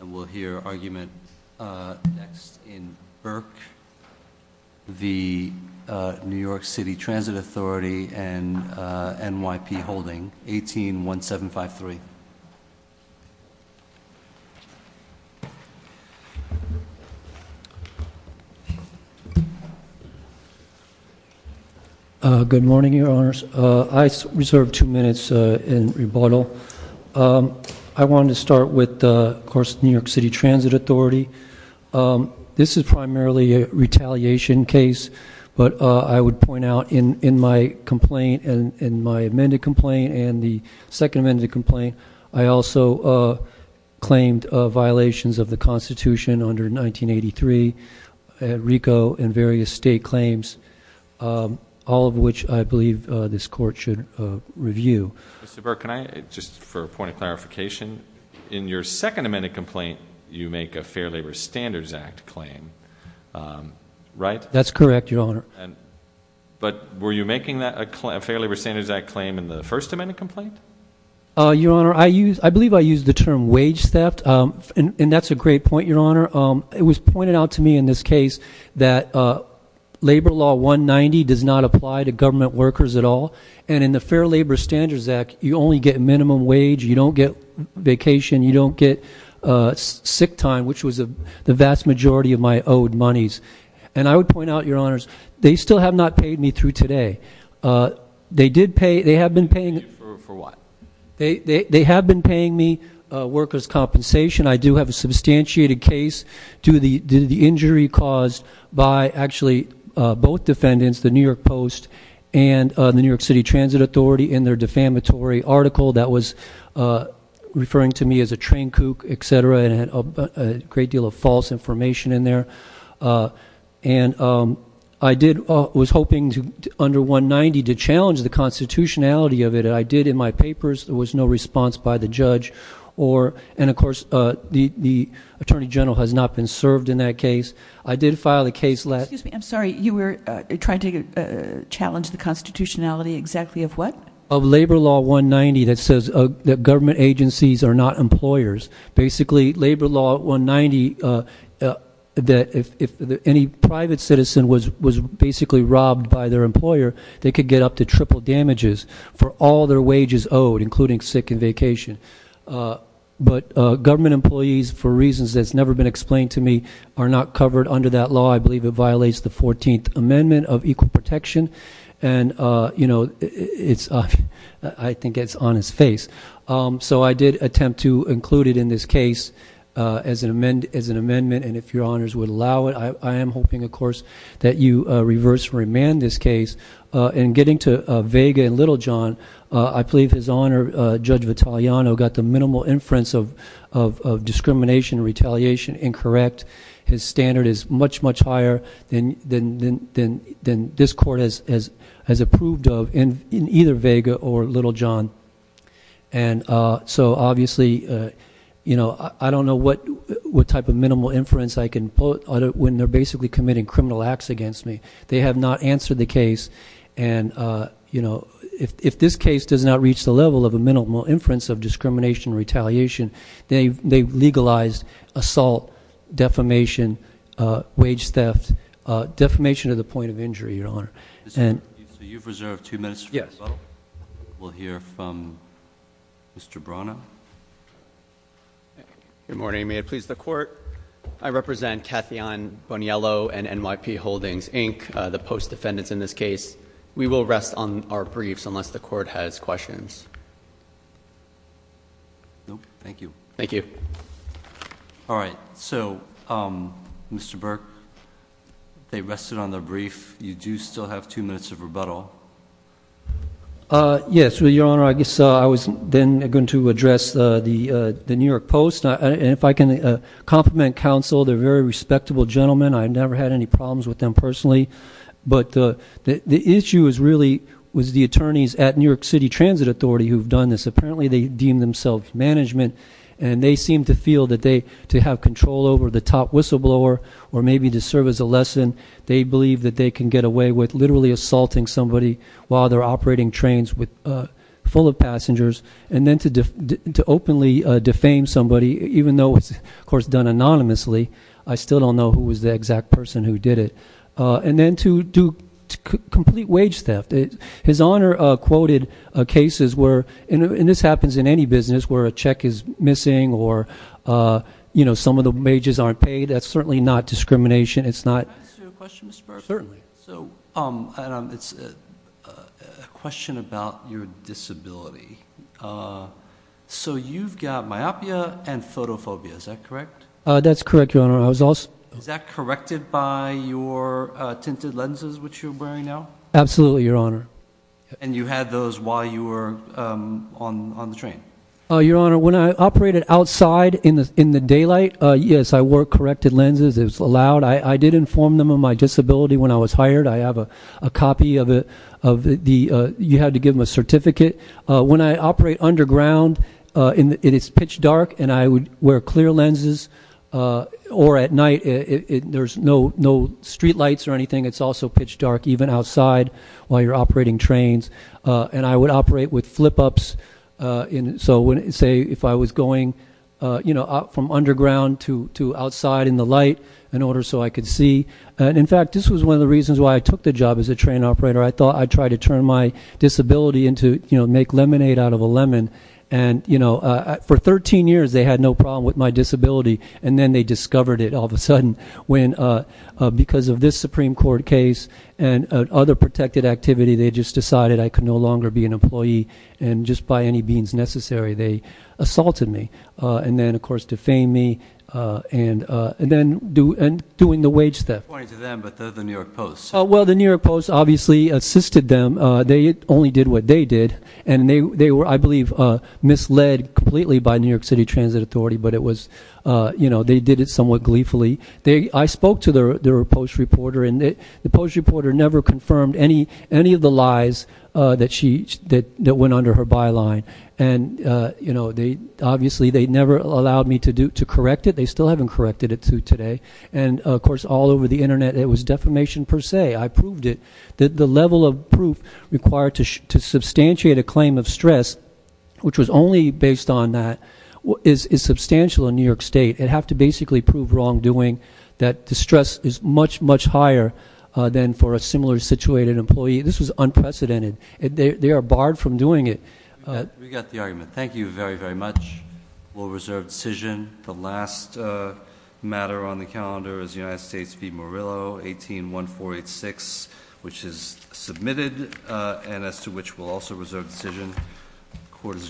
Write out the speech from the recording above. And we'll hear argument next in Burke, the New York City Transit Authority and NYP holding 181753. Good morning, your honors. I reserve two minutes in rebuttal. I wanted to start with, of course, New York City Transit Authority. This is primarily a retaliation case, but I would point out in my complaint and in my amended complaint and the second amended complaint, I also claimed violations of the Constitution under 1983, RICO, and various state claims, all of which I believe this court should review. Mr. Burke, can I, just for a point of clarification, in your second amended complaint you make a Fair Labor Standards Act claim, right? That's correct, your honor. But were you making that a Fair Labor Standards Act claim in the first amended complaint? Your honor, I believe I used the term wage theft, and that's a great point, your honor. It was pointed out to me in this Fair Labor Standards Act, you only get minimum wage, you don't get vacation, you don't get sick time, which was the vast majority of my owed monies. And I would point out, your honors, they still have not paid me through today. They did pay, they have been paying- For what? They have been paying me workers' compensation. I do have a substantiated case due to the injury caused by, actually, both City Transit Authority and their defamatory article that was referring to me as a train kook, et cetera, and it had a great deal of false information in there. And I did, was hoping to, under 190, to challenge the constitutionality of it, and I did in my papers, there was no response by the judge, or, and of course, the Attorney General has not been served in that case. I did file the case last- Excuse me, I'm sorry, you were trying to challenge the exactly of what? Of Labor Law 190 that says that government agencies are not employers. Basically, Labor Law 190, that if any private citizen was basically robbed by their employer, they could get up to triple damages for all their wages owed, including sick and vacation. But government employees, for reasons that's never been explained to me, are not covered under that law. I think it's on its face. So I did attempt to include it in this case as an amendment, and if your honors would allow it, I am hoping, of course, that you reverse remand this case. In getting to Vega and Little John, I believe his honor, Judge Vitaliano, got the minimal inference of discrimination, retaliation, incorrect. His standard is much, much higher than this court, as approved of in either Vega or Little John. And so obviously, you know, I don't know what type of minimal inference I can put when they're basically committing criminal acts against me. They have not answered the case, and you know, if this case does not reach the level of a minimal inference of discrimination, retaliation, they've legalized assault, defamation, wage theft, defamation of the state. You've reserved two minutes for rebuttal? Yes. We'll hear from Mr. Brana. Good morning. May it please the Court, I represent Cathy Ann Boniello and NYP Holdings, Inc., the post-defendants in this case. We will rest on our briefs unless the Court has questions. No. Thank you. Thank you. All right. So, Mr. Burke, they rested on their brief. You do still have two minutes of rebuttal. Yes. Your Honor, I guess I was then going to address the New York Post. And if I can compliment counsel, they're very respectable gentlemen. I've never had any problems with them personally. But the issue is really, was the attorneys at New York City Transit Authority who've done this. Apparently, they deem themselves management, and they seem to feel that they, to have control over the top whistleblower, or maybe to serve as a lesson, they believe that they can get away with literally assaulting somebody while they're operating trains full of passengers. And then to openly defame somebody, even though it's, of course, done anonymously. I still don't know who was the exact person who did it. And then to do complete wage theft. His Honor quoted cases where, and this happens in any business, where a check is missing or some of the wages aren't paid. That's certainly not discrimination. Can I ask you a question, Mr. Burke? Certainly. So, Adam, it's a question about your disability. So you've got myopia and photophobia, is that correct? That's correct, Your Honor. I was also... Is that corrected by your tinted lenses which you're wearing now? Absolutely, Your Honor. And you had those while you were on the train? Your Honor, when I operated outside in the daylight, yes, I wore corrected I have a copy of the... You had to give them a certificate. When I operate underground, it is pitch dark, and I would wear clear lenses. Or at night, there's no street lights or anything. It's also pitch dark even outside while you're operating trains. And I would operate with flip-ups. So, say, if I was going from underground to outside in the light, in order so I could see. And, in fact, this was one of the reasons why I took the job as a train operator. I thought I'd try to turn my disability into, you know, make lemonade out of a lemon. And, you know, for 13 years, they had no problem with my disability. And then they discovered it all of a sudden when, because of this Supreme Court case and other protected activity, they just decided I could no longer be an employee. And just by any means necessary, they assaulted me. And then, of course, defamed me. And then doing the wage theft. I'm pointing to them, but the New York Post. Well, the New York Post obviously assisted them. They only did what they did. And they were, I believe, misled completely by New York City Transit Authority. But it was, you know, they did it somewhat gleefully. I spoke to their post reporter, and the post reporter never confirmed any of the lies that went under her byline. And, you know, they obviously, they never allowed me to correct it. They still haven't corrected it to today. And, of course, all over the Internet, it was defamation per se. I proved it. The level of proof required to substantiate a claim of stress, which was only based on that, is substantial in New York State. It'd have to basically prove wrongdoing, that the stress is much, much higher than for a similar situated employee. This was unprecedented. They are barred from doing it. We got the argument. Thank you very, very much. We'll reserve decision. The last matter on the calendar is United States v. Murillo, 18-1486, which is submitted, and as to which we'll also reserve decision. Court is adjourned.